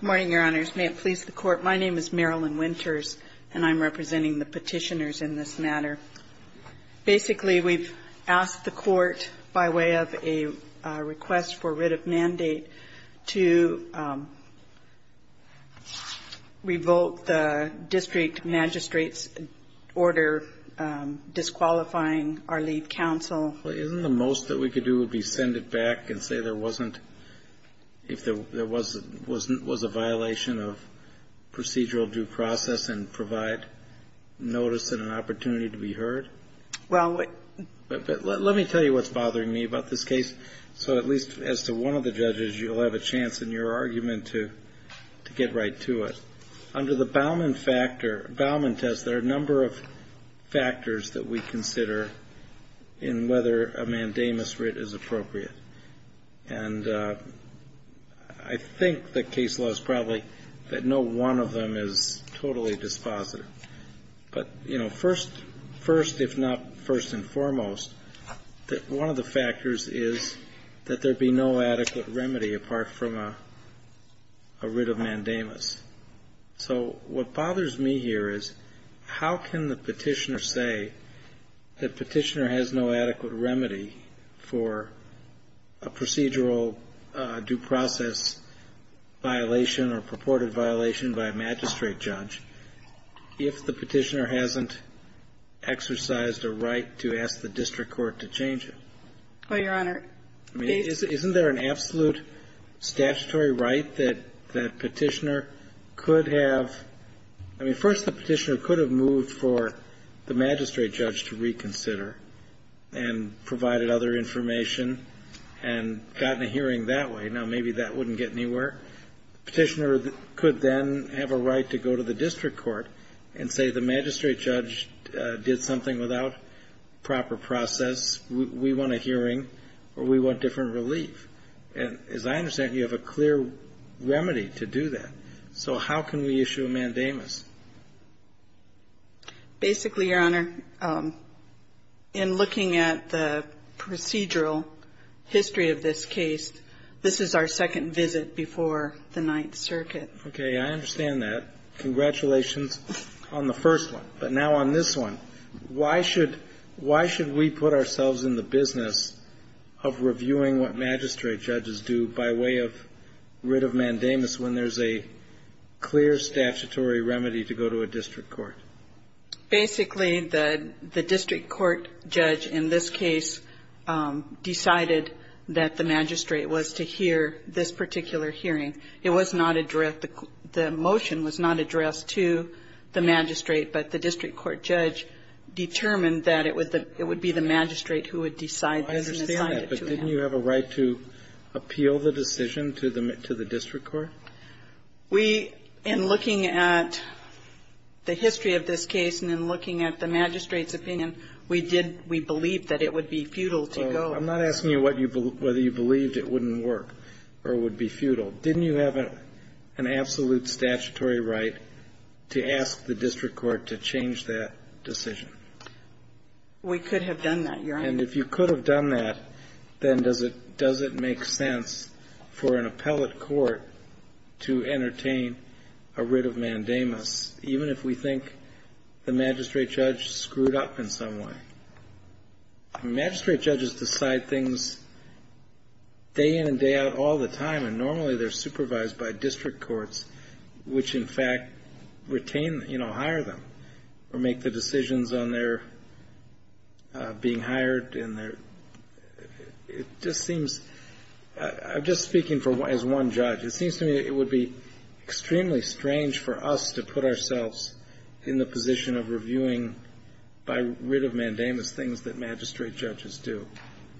Good morning, Your Honors. May it please the Court, my name is Marilyn Winters and I'm representing the Petitioners in this matter. Basically, we've asked the Court, by way of a request for writ of mandate, to revoke the District Magistrate's order disqualifying our lead counsel. Isn't the most that we could do would be send it back and say there wasn't, if there was a violation of procedural due process and provide notice and an opportunity to be heard? Let me tell you what's bothering me about this case, so at least as to one of the judges, you'll have a chance in your argument to get right to it. Under the Bauman test, there are a number of factors that we consider in whether a mandamus writ is appropriate. And I think the case law is probably that no one of them is totally dispositive. But, you know, first, if not first and foremost, one of the factors is that there be no adequate remedy apart from a writ of mandamus. So what bothers me here is how can the Petitioner say that Petitioner has no adequate remedy for a procedural due process violation or purported violation by a magistrate judge if the Petitioner hasn't exercised a right to ask the district court to change it? I mean, isn't there an absolute statutory right that Petitioner could have? I mean, first, the Petitioner could have moved for the magistrate judge to reconsider and provided other information and gotten a hearing that way. Now, maybe that wouldn't get anywhere. Petitioner could then have a right to go to the district court and say the magistrate judge did something without proper process. We want a hearing or we want different relief. And as I understand, you have a clear remedy to do that. So how can we issue a mandamus? Basically, Your Honor, in looking at the procedural history of this case, this is our second visit before the Ninth Circuit. Okay. I understand that. Congratulations on the first one. But now on this one, why should we put ourselves in the business of reviewing what magistrate judges do by way of writ of mandamus when there's a clear statutory remedy to go to a district court? Basically, the district court judge in this case decided that the magistrate judge would go to the district court. And the magistrate judge was not the one who decided that it was to hear this particular hearing. It was not addressed the motion was not addressed to the magistrate. But the district court judge determined that it would be the magistrate who would decide this and assign it to him. I understand that, but didn't you have a right to appeal the decision to the district court? We, in looking at the history of this case and in looking at the magistrate's opinion, we did we believe that it would be futile to go. I'm not asking you whether you believed it wouldn't work or would be futile. Didn't you have an absolute statutory right to ask the district court to change that decision? We could have done that, Your Honor. And if you could have done that, then does it make sense for an appellate court to entertain a writ of mandamus, even if we think the magistrate judge screwed up in some way? Magistrate judges decide things day in and day out all the time, and normally they're supervised by district courts, which in fact retain, hire them or make the decisions on their being hired and their, it just seems, I'm just speaking as one judge, it seems to me that it would be extremely strange for us to put ourselves in the position of reviewing by writ of mandamus things that magistrate judges do,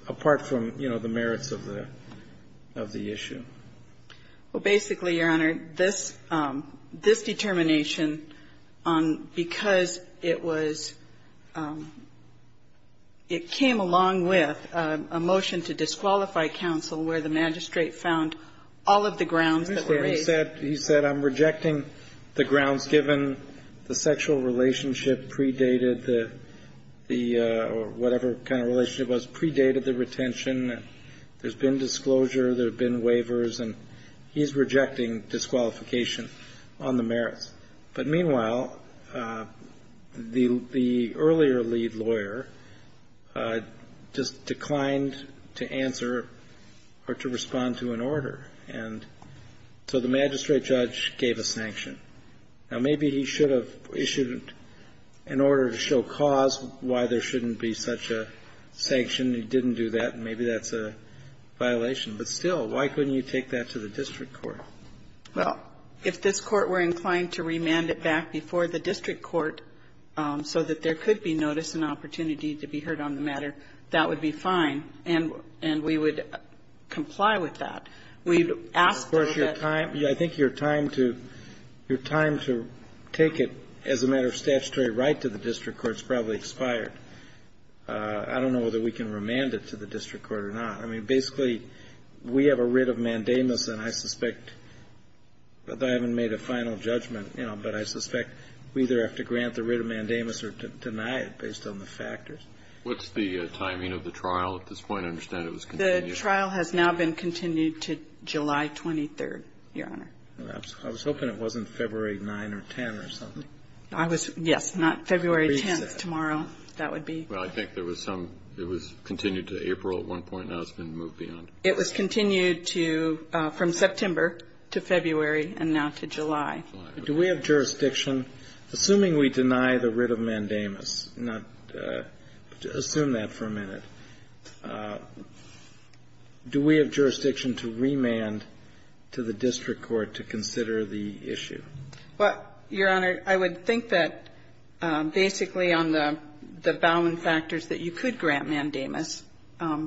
apart from, you know, the merits of the issue. Well, basically, Your Honor, this determination, because it was, it came along with a motion to disqualify counsel where the magistrate found all of the grounds that were raised. He said I'm rejecting the grounds given the sexual relationship predated the, or whatever kind of relationship was predated the retention. There's been disclosure. There have been waivers. And he's rejecting disqualification on the merits. But meanwhile, the earlier lead lawyer just declined to answer or to respond to an order. And so the magistrate judge gave a sanction. Now, maybe he should have issued, in order to show cause, why there shouldn't be such a sanction. He didn't do that, and maybe that's a violation. But still, why couldn't you take that to the district court? Well, if this Court were inclined to remand it back before the district court so that there could be notice and opportunity to be heard on the matter, that would be fine, and we would comply with that. We've asked that that be done. Of course, your time, I think your time to take it as a matter of statutory right to the district court's probably expired. I don't know whether we can remand it to the district court or not. I mean, basically, we have a writ of mandamus, and I suspect, but I haven't made a final judgment, you know, but I suspect we either have to grant the writ of mandamus or deny it based on the factors. What's the timing of the trial at this point? I understand it was continued. The trial has now been continued to July 23rd, Your Honor. I was hoping it wasn't February 9th or 10th or something. I was, yes, not February 10th, tomorrow. That would be. Well, I think there was some, it was continued to April at one point. Now it's been moved beyond. It was continued to, from September to February and now to July. Do we have jurisdiction, assuming we deny the writ of mandamus, not, assume that we deny the writ of mandamus, do we have jurisdiction to remand to the district court to consider the issue? Well, Your Honor, I would think that basically on the Bowman factors that you could grant mandamus. That's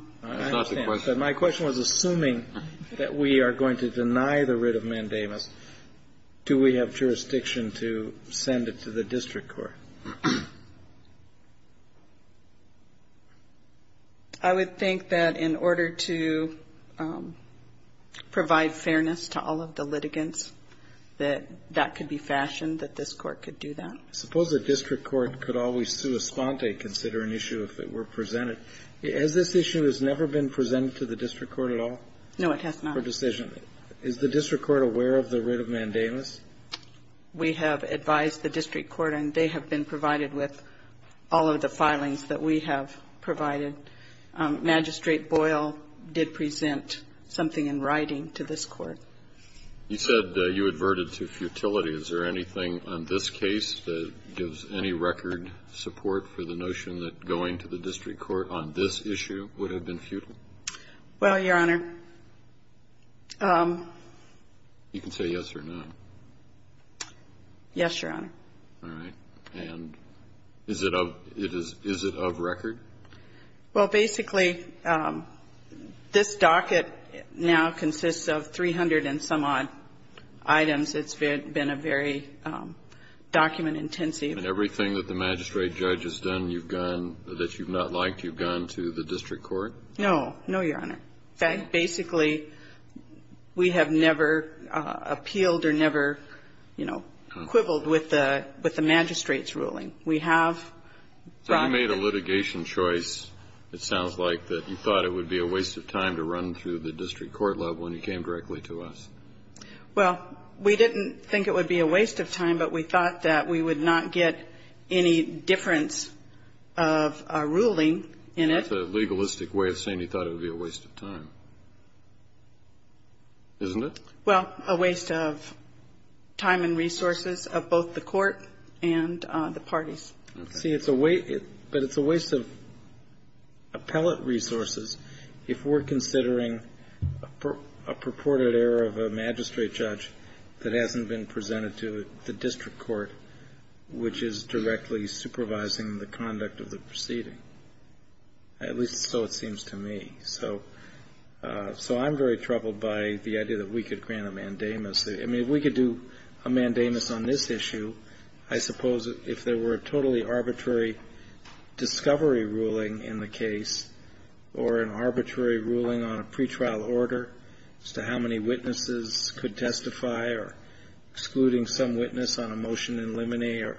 not the question. My question was assuming that we are going to deny the writ of mandamus, do we have I would think that in order to provide fairness to all of the litigants, that that could be fashioned, that this Court could do that. I suppose the district court could always sua sponte, consider an issue if it were presented. Has this issue never been presented to the district court at all? No, it has not. For decision. Is the district court aware of the writ of mandamus? We have advised the district court and they have been provided with all of the filings that we have provided. Magistrate Boyle did present something in writing to this Court. You said you adverted to futility. Is there anything on this case that gives any record support for the notion that going to the district court on this issue would have been futile? Well, Your Honor. You can say yes or no. Yes, Your Honor. All right. And is it of record? Well, basically, this docket now consists of 300 and some odd items. It's been a very document-intensive. And everything that the magistrate judge has done that you've not liked, you've gone to the district court? No. No, Your Honor. In fact, basically, we have never appealed or never, you know, quibbled with the magistrate's ruling. We have brought it. So you made a litigation choice, it sounds like, that you thought it would be a waste of time to run through the district court level and you came directly to us. Well, we didn't think it would be a waste of time, That's a legalistic way of saying you thought it would be a waste of time. Isn't it? Well, a waste of time and resources of both the court and the parties. See, it's a waste of appellate resources if we're considering a purported error of a magistrate judge that hasn't been presented to the district court, which is directly supervising the conduct of the proceeding. At least so it seems to me. So I'm very troubled by the idea that we could grant a mandamus. I mean, if we could do a mandamus on this issue, I suppose if there were a totally arbitrary discovery ruling in the case or an arbitrary ruling on a pretrial order as to how many witnesses could testify or excluding some witness on a motion in limine or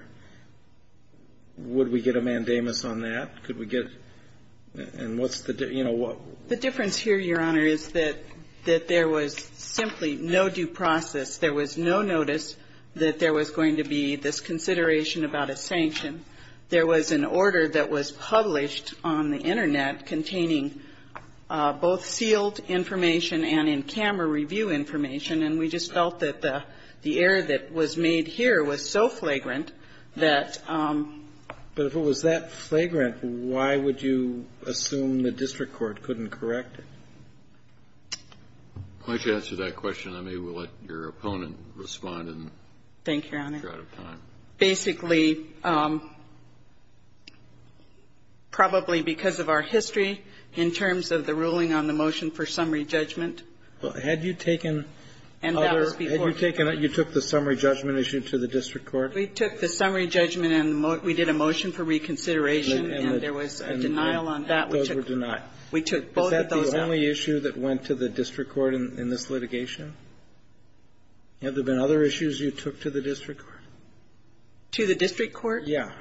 would we get a mandamus on that? Could we get, and what's the, you know, what? The difference here, Your Honor, is that there was simply no due process. There was no notice that there was going to be this consideration about a sanction. There was an order that was published on the Internet containing both sealed information and in-camera review information. And we just felt that the error that was made here was so flagrant that But if it was that flagrant, why would you assume the district court couldn't correct it? Why don't you answer that question. I may well let your opponent respond. Thank you, Your Honor. We're out of time. Basically, probably because of our history in terms of the ruling on the motion for summary judgment. Well, had you taken other You took the summary judgment issue to the district court. We took the summary judgment and we did a motion for reconsideration and there was a denial on that. Those were denied. We took both of those out. Is that the only issue that went to the district court in this litigation? Have there been other issues you took to the district court? To the district court? Yeah.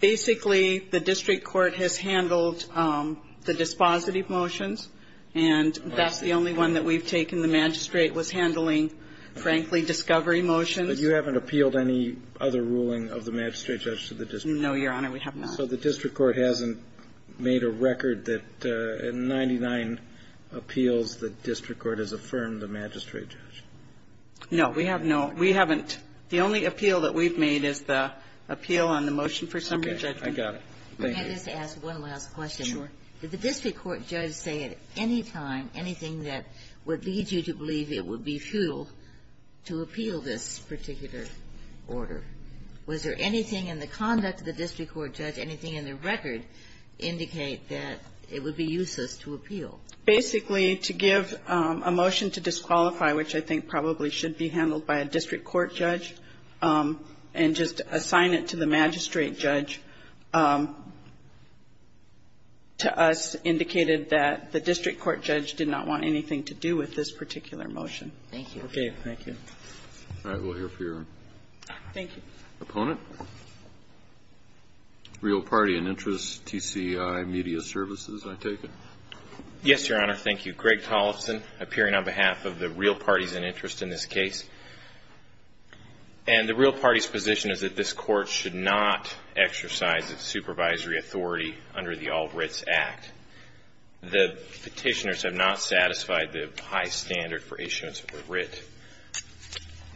Basically, the district court has handled the dispositive motions, and that's the only one that we've taken. The magistrate was handling, frankly, discovery motions. But you haven't appealed any other ruling of the magistrate judge to the district court? No, Your Honor, we have not. So the district court hasn't made a record that in 99 appeals, the district court has affirmed the magistrate judge? No, we have not. We haven't. The only appeal that we've made is the appeal on the motion for summary judgment. Okay. I got it. Thank you. Let me just ask one last question. Sure. Did the district court judge say at any time anything that would lead you to believe it would be futile to appeal this particular order? Was there anything in the conduct of the district court judge, anything in the record indicate that it would be useless to appeal? Basically, to give a motion to disqualify, which I think probably should be handled by a district court judge, and just assign it to the magistrate judge, to us indicated that the district court judge did not want anything to do with this particular motion. Thank you. Okay. Thank you. All right. We'll hear from your opponent. Real Party and Interest, TCI Media Services, I take it? Yes, Your Honor. Thank you. I'm Greg Tollefson, appearing on behalf of the Real Parties and Interest in this case. And the Real Party's position is that this court should not exercise its supervisory authority under the All Writs Act. The petitioners have not satisfied the high standard for issuance of a writ.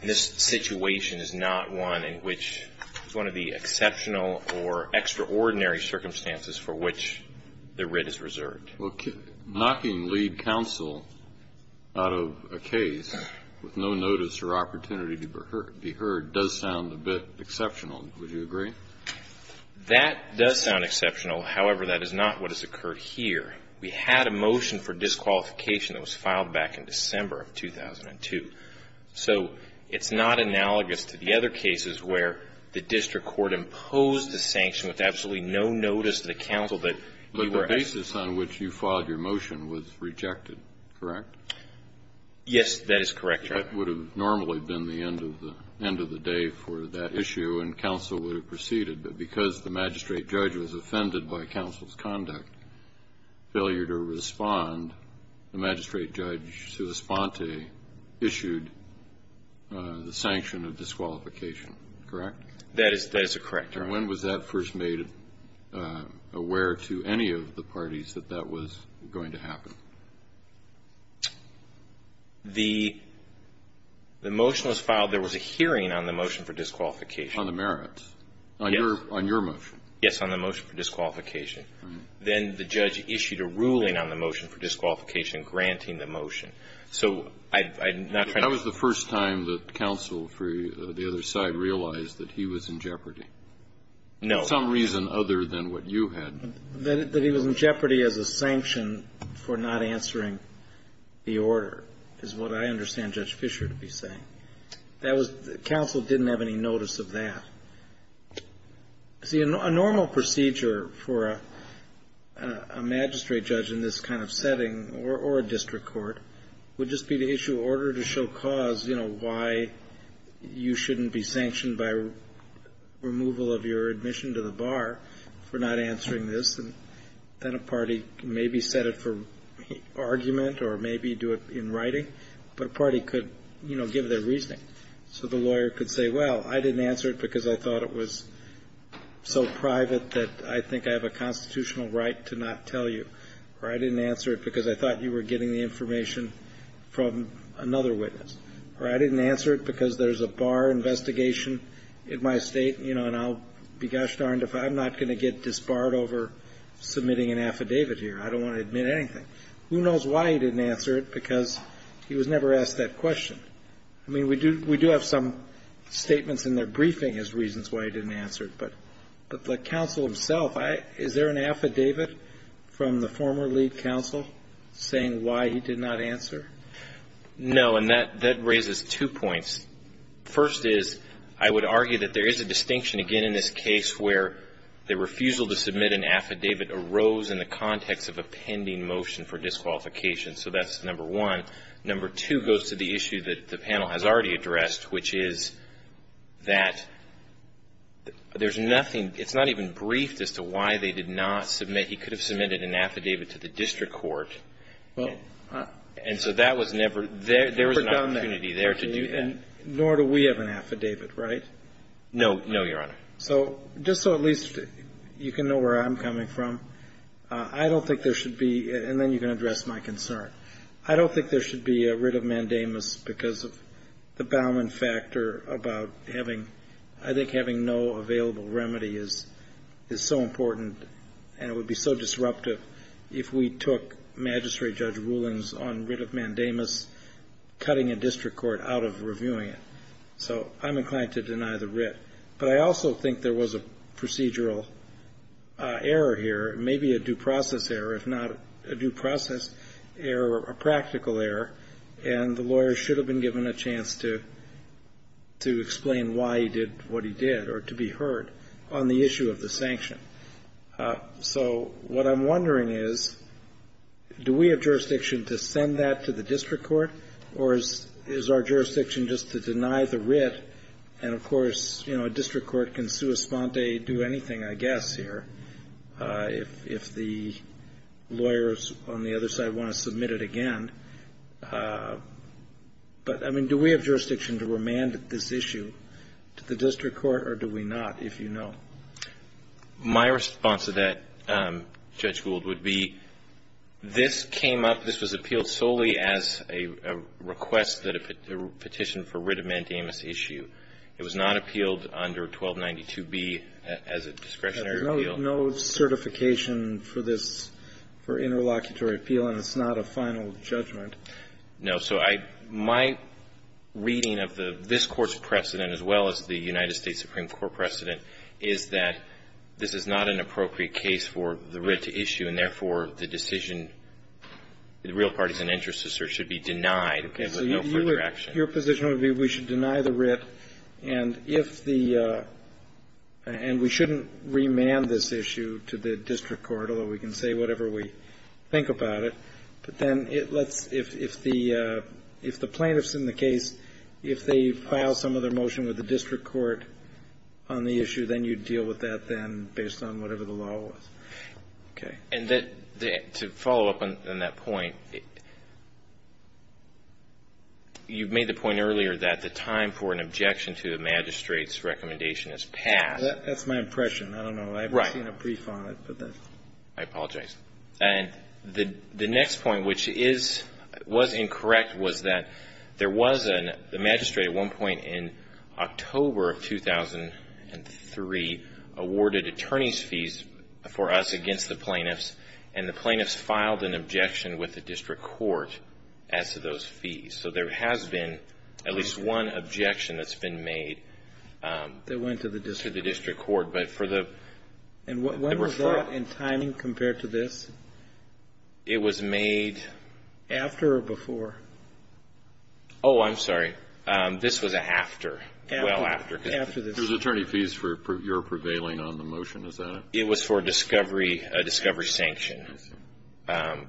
This situation is not one in which one of the exceptional or extraordinary circumstances for which the writ is reserved. Well, knocking lead counsel out of a case with no notice or opportunity to be heard does sound a bit exceptional. Would you agree? That does sound exceptional. However, that is not what has occurred here. We had a motion for disqualification that was filed back in December of 2002. So it's not analogous to the other cases where the district court imposed a sanction with absolutely no notice to the counsel that he were at fault. The case on which you filed your motion was rejected, correct? Yes, that is correct, Your Honor. That would have normally been the end of the day for that issue, and counsel would have proceeded. But because the magistrate judge was offended by counsel's conduct, failure to respond, the magistrate judge sui sponte issued the sanction of disqualification, correct? That is correct, Your Honor. And when was that first made aware to any of the parties that that was going to happen? The motion was filed. There was a hearing on the motion for disqualification. On the merits? Yes. On your motion? Yes, on the motion for disqualification. Then the judge issued a ruling on the motion for disqualification granting the motion. So I'm not trying to ---- Counsel for the other side realized that he was in jeopardy. No. For some reason other than what you had. That he was in jeopardy as a sanction for not answering the order is what I understand Judge Fischer to be saying. That was the counsel didn't have any notice of that. See, a normal procedure for a magistrate judge in this kind of setting or a district court would just be to issue an order to show cause, you know, why you shouldn't be sanctioned by removal of your admission to the bar for not answering this. And then a party maybe set it for argument or maybe do it in writing, but a party could, you know, give their reasoning. So the lawyer could say, well, I didn't answer it because I thought it was so private that I think I have a constitutional right to not tell you. Or I didn't answer it because I thought you were getting the information from another witness. Or I didn't answer it because there's a bar investigation in my State, you know, and I'll be gosh darned if I'm not going to get disbarred over submitting an affidavit here. I don't want to admit anything. Who knows why he didn't answer it because he was never asked that question. I mean, we do have some statements in their briefing as reasons why he didn't answer it. But the counsel himself, is there an affidavit from the former lead counsel saying why he did not answer? No. And that raises two points. First is I would argue that there is a distinction, again, in this case where the refusal to submit an affidavit arose in the context of a pending motion for disqualification. So that's number one. Number two goes to the issue that the panel has already addressed, which is that there's nothing, it's not even briefed as to why they did not submit. He could have submitted an affidavit to the district court. And so that was never, there was an opportunity there to do that. Nor do we have an affidavit, right? No. No, Your Honor. So just so at least you can know where I'm coming from, I don't think there should be, and then you can address my concern, I don't think there should be a writ of mandamus because of the Bauman factor about having, I think having no available remedy is so important and it would be so disruptive if we took Magistrate Judge Rulon's on writ of mandamus, cutting a district court out of reviewing it. So I'm inclined to deny the writ. But I also think there was a procedural error here, maybe a due process error, if not a due process error, a practical error, and the lawyer should have been given a chance to explain why he did what he did or to be heard on the issue of the sanction. So what I'm wondering is, do we have jurisdiction to send that to the district court, or is our jurisdiction just to deny the writ? And, of course, you know, a district court can sua sponte do anything, I guess, here. If the lawyers on the other side want to submit it again. But, I mean, do we have jurisdiction to remand this issue to the district court, or do we not, if you know? My response to that, Judge Gould, would be this came up, this was appealed solely as a request that a petition for writ of mandamus issue. It was not appealed under 1292B as a discretionary appeal. No certification for this, for interlocutory appeal, and it's not a final judgment. No. So my reading of this Court's precedent, as well as the United States Supreme Court precedent, is that this is not an appropriate case for the writ to issue, and, therefore, the decision, the real parties and interests should be denied. So no further action. Your position would be we should deny the writ, and if the, and we shouldn't remand this issue to the district court, although we can say whatever we think about it. But then it lets, if the plaintiffs in the case, if they file some other motion with the district court on the issue, then you deal with that then based on whatever the law was. Okay. And that, to follow up on that point, you've made the point earlier that the time for an objection to the magistrate's recommendation is passed. That's my impression. I don't know. Right. I've seen a brief on it. I apologize. And the next point, which is, was incorrect, was that there was a magistrate at one point in October of 2003 awarded attorney's fees for us against the plaintiffs and the plaintiffs filed an objection with the district court as to those fees. So there has been at least one objection that's been made. That went to the district court. To the district court. And when was that in timing compared to this? It was made. After or before? Oh, I'm sorry. This was after, well after. After this. It was attorney fees for your prevailing on the motion, is that it? It was for discovery, a discovery sanction. So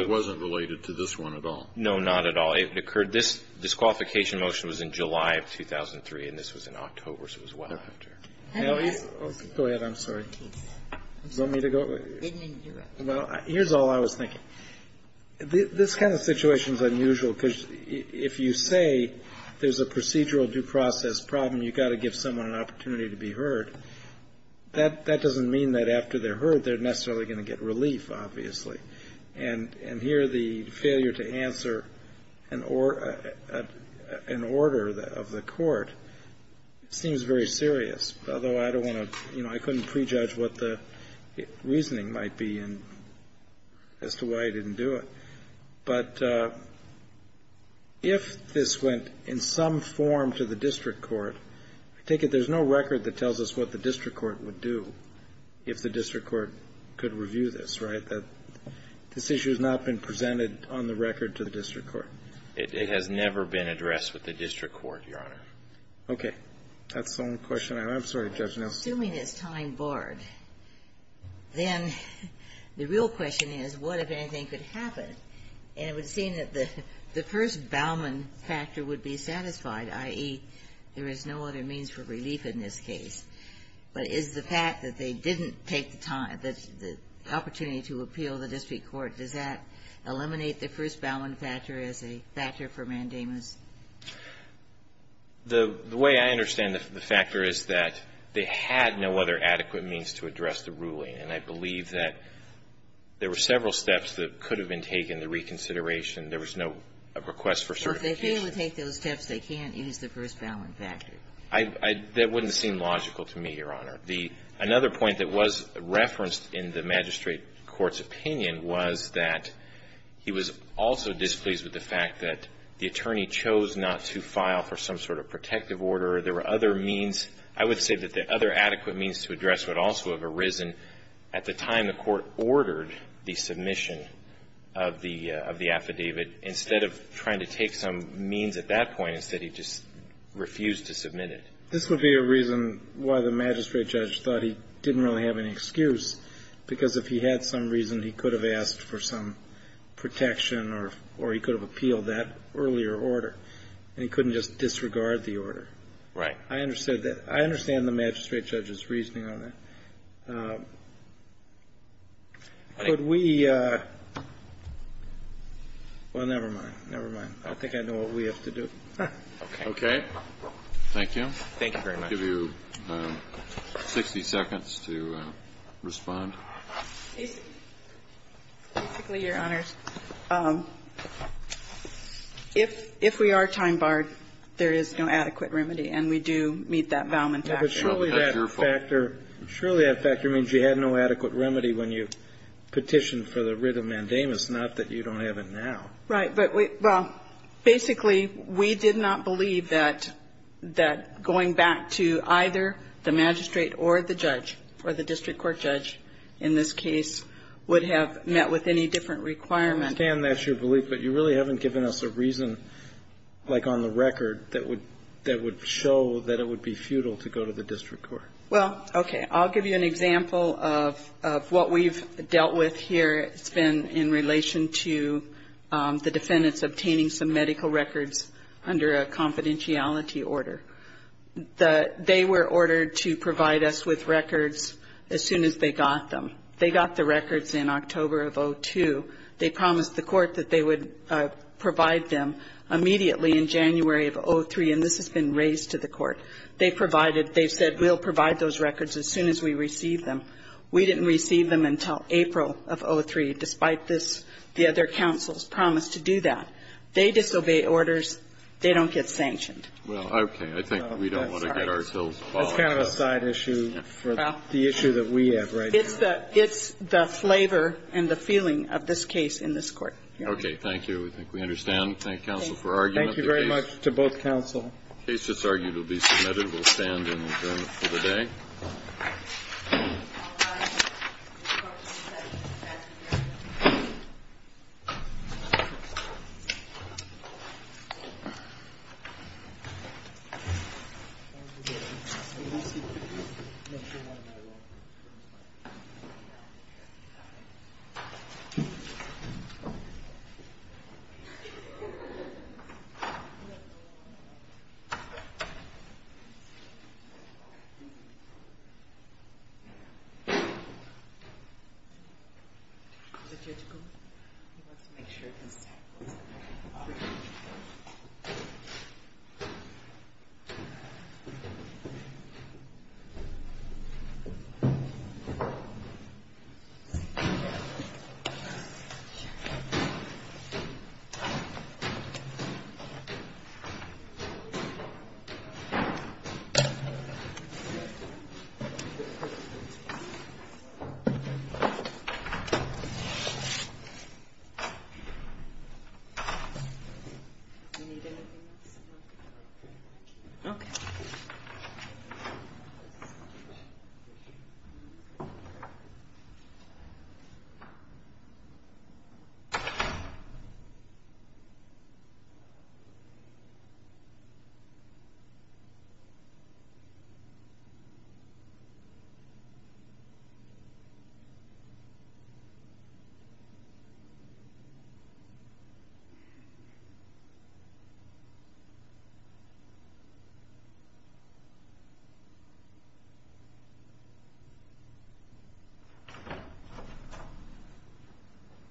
it wasn't related to this one at all? No, not at all. It occurred, this disqualification motion was in July of 2003, and this was in October, so it was well after. Go ahead. I'm sorry. You want me to go? Well, here's all I was thinking. This kind of situation is unusual because if you say there's a procedural due process problem, you've got to give someone an opportunity to be heard, that doesn't mean that after they're heard, they're necessarily going to get relief, obviously. And here the failure to answer an order of the court seems very serious, although I don't want to, you know, I couldn't prejudge what the reasoning might be as to why he didn't do it. But if this went in some form to the district court, I take it there's no record that tells us what the district court would do if the district court could review this, right? This issue has not been presented on the record to the district court? It has never been addressed with the district court, Your Honor. Okay. That's the only question I have. I'm sorry, Judge Nelson. If I'm assuming it's time barred, then the real question is what, if anything, could happen? And it would seem that the first Bauman factor would be satisfied, i.e., there is no other means for relief in this case. But is the fact that they didn't take the time, the opportunity to appeal the district court, does that eliminate the first Bauman factor as a factor for mandamus? The way I understand the factor is that they had no other adequate means to address the ruling, and I believe that there were several steps that could have been taken, the reconsideration. There was no request for certification. Well, if they fail to take those steps, they can't use the first Bauman factor. That wouldn't seem logical to me, Your Honor. Another point that was referenced in the magistrate court's opinion was that he was also displeased with the fact that the attorney chose not to file for some sort of protective order. There were other means. I would say that the other adequate means to address would also have arisen at the time the court ordered the submission of the affidavit. Instead of trying to take some means at that point, instead he just refused to submit it. This would be a reason why the magistrate judge thought he didn't really have any excuse, because if he had some reason, he could have asked for some protection or he could have appealed that earlier order. And he couldn't just disregard the order. Right. I understand that. I understand the magistrate judge's reasoning on that. Could we – well, never mind. Never mind. I think I know what we have to do. Okay. Okay. Thank you. Thank you very much. Can I give you 60 seconds to respond? Basically, Your Honors, if we are time barred, there is no adequate remedy. And we do meet that Valman factor. But surely that factor means you had no adequate remedy when you petitioned for the writ of mandamus, not that you don't have it now. Right. Well, basically, we did not believe that going back to either the magistrate or the judge, or the district court judge in this case, would have met with any different requirement. I understand that's your belief. But you really haven't given us a reason, like on the record, that would show that it would be futile to go to the district court. Well, okay. I'll give you an example of what we've dealt with here. It's been in relation to the defendants obtaining some medical records under a confidentiality order. They were ordered to provide us with records as soon as they got them. They got the records in October of 2002. They promised the court that they would provide them immediately in January of 2003, and this has been raised to the court. They've said, we'll provide those records as soon as we receive them. We didn't receive them until April of 2003. Despite this, the other counsels promised to do that. They disobey orders. They don't get sanctioned. Well, okay. I think we don't want to get ourselves bogged down. That's kind of a side issue for the issue that we have right here. It's the flavor and the feeling of this case in this Court. Okay. Thank you. I think we understand. Thank counsel for argument. Thank you very much to both counsel. The case that's argued will be submitted. We'll stand and adjourn for the day. Thank you. Thank you. Thank you. Thank you. Thank you.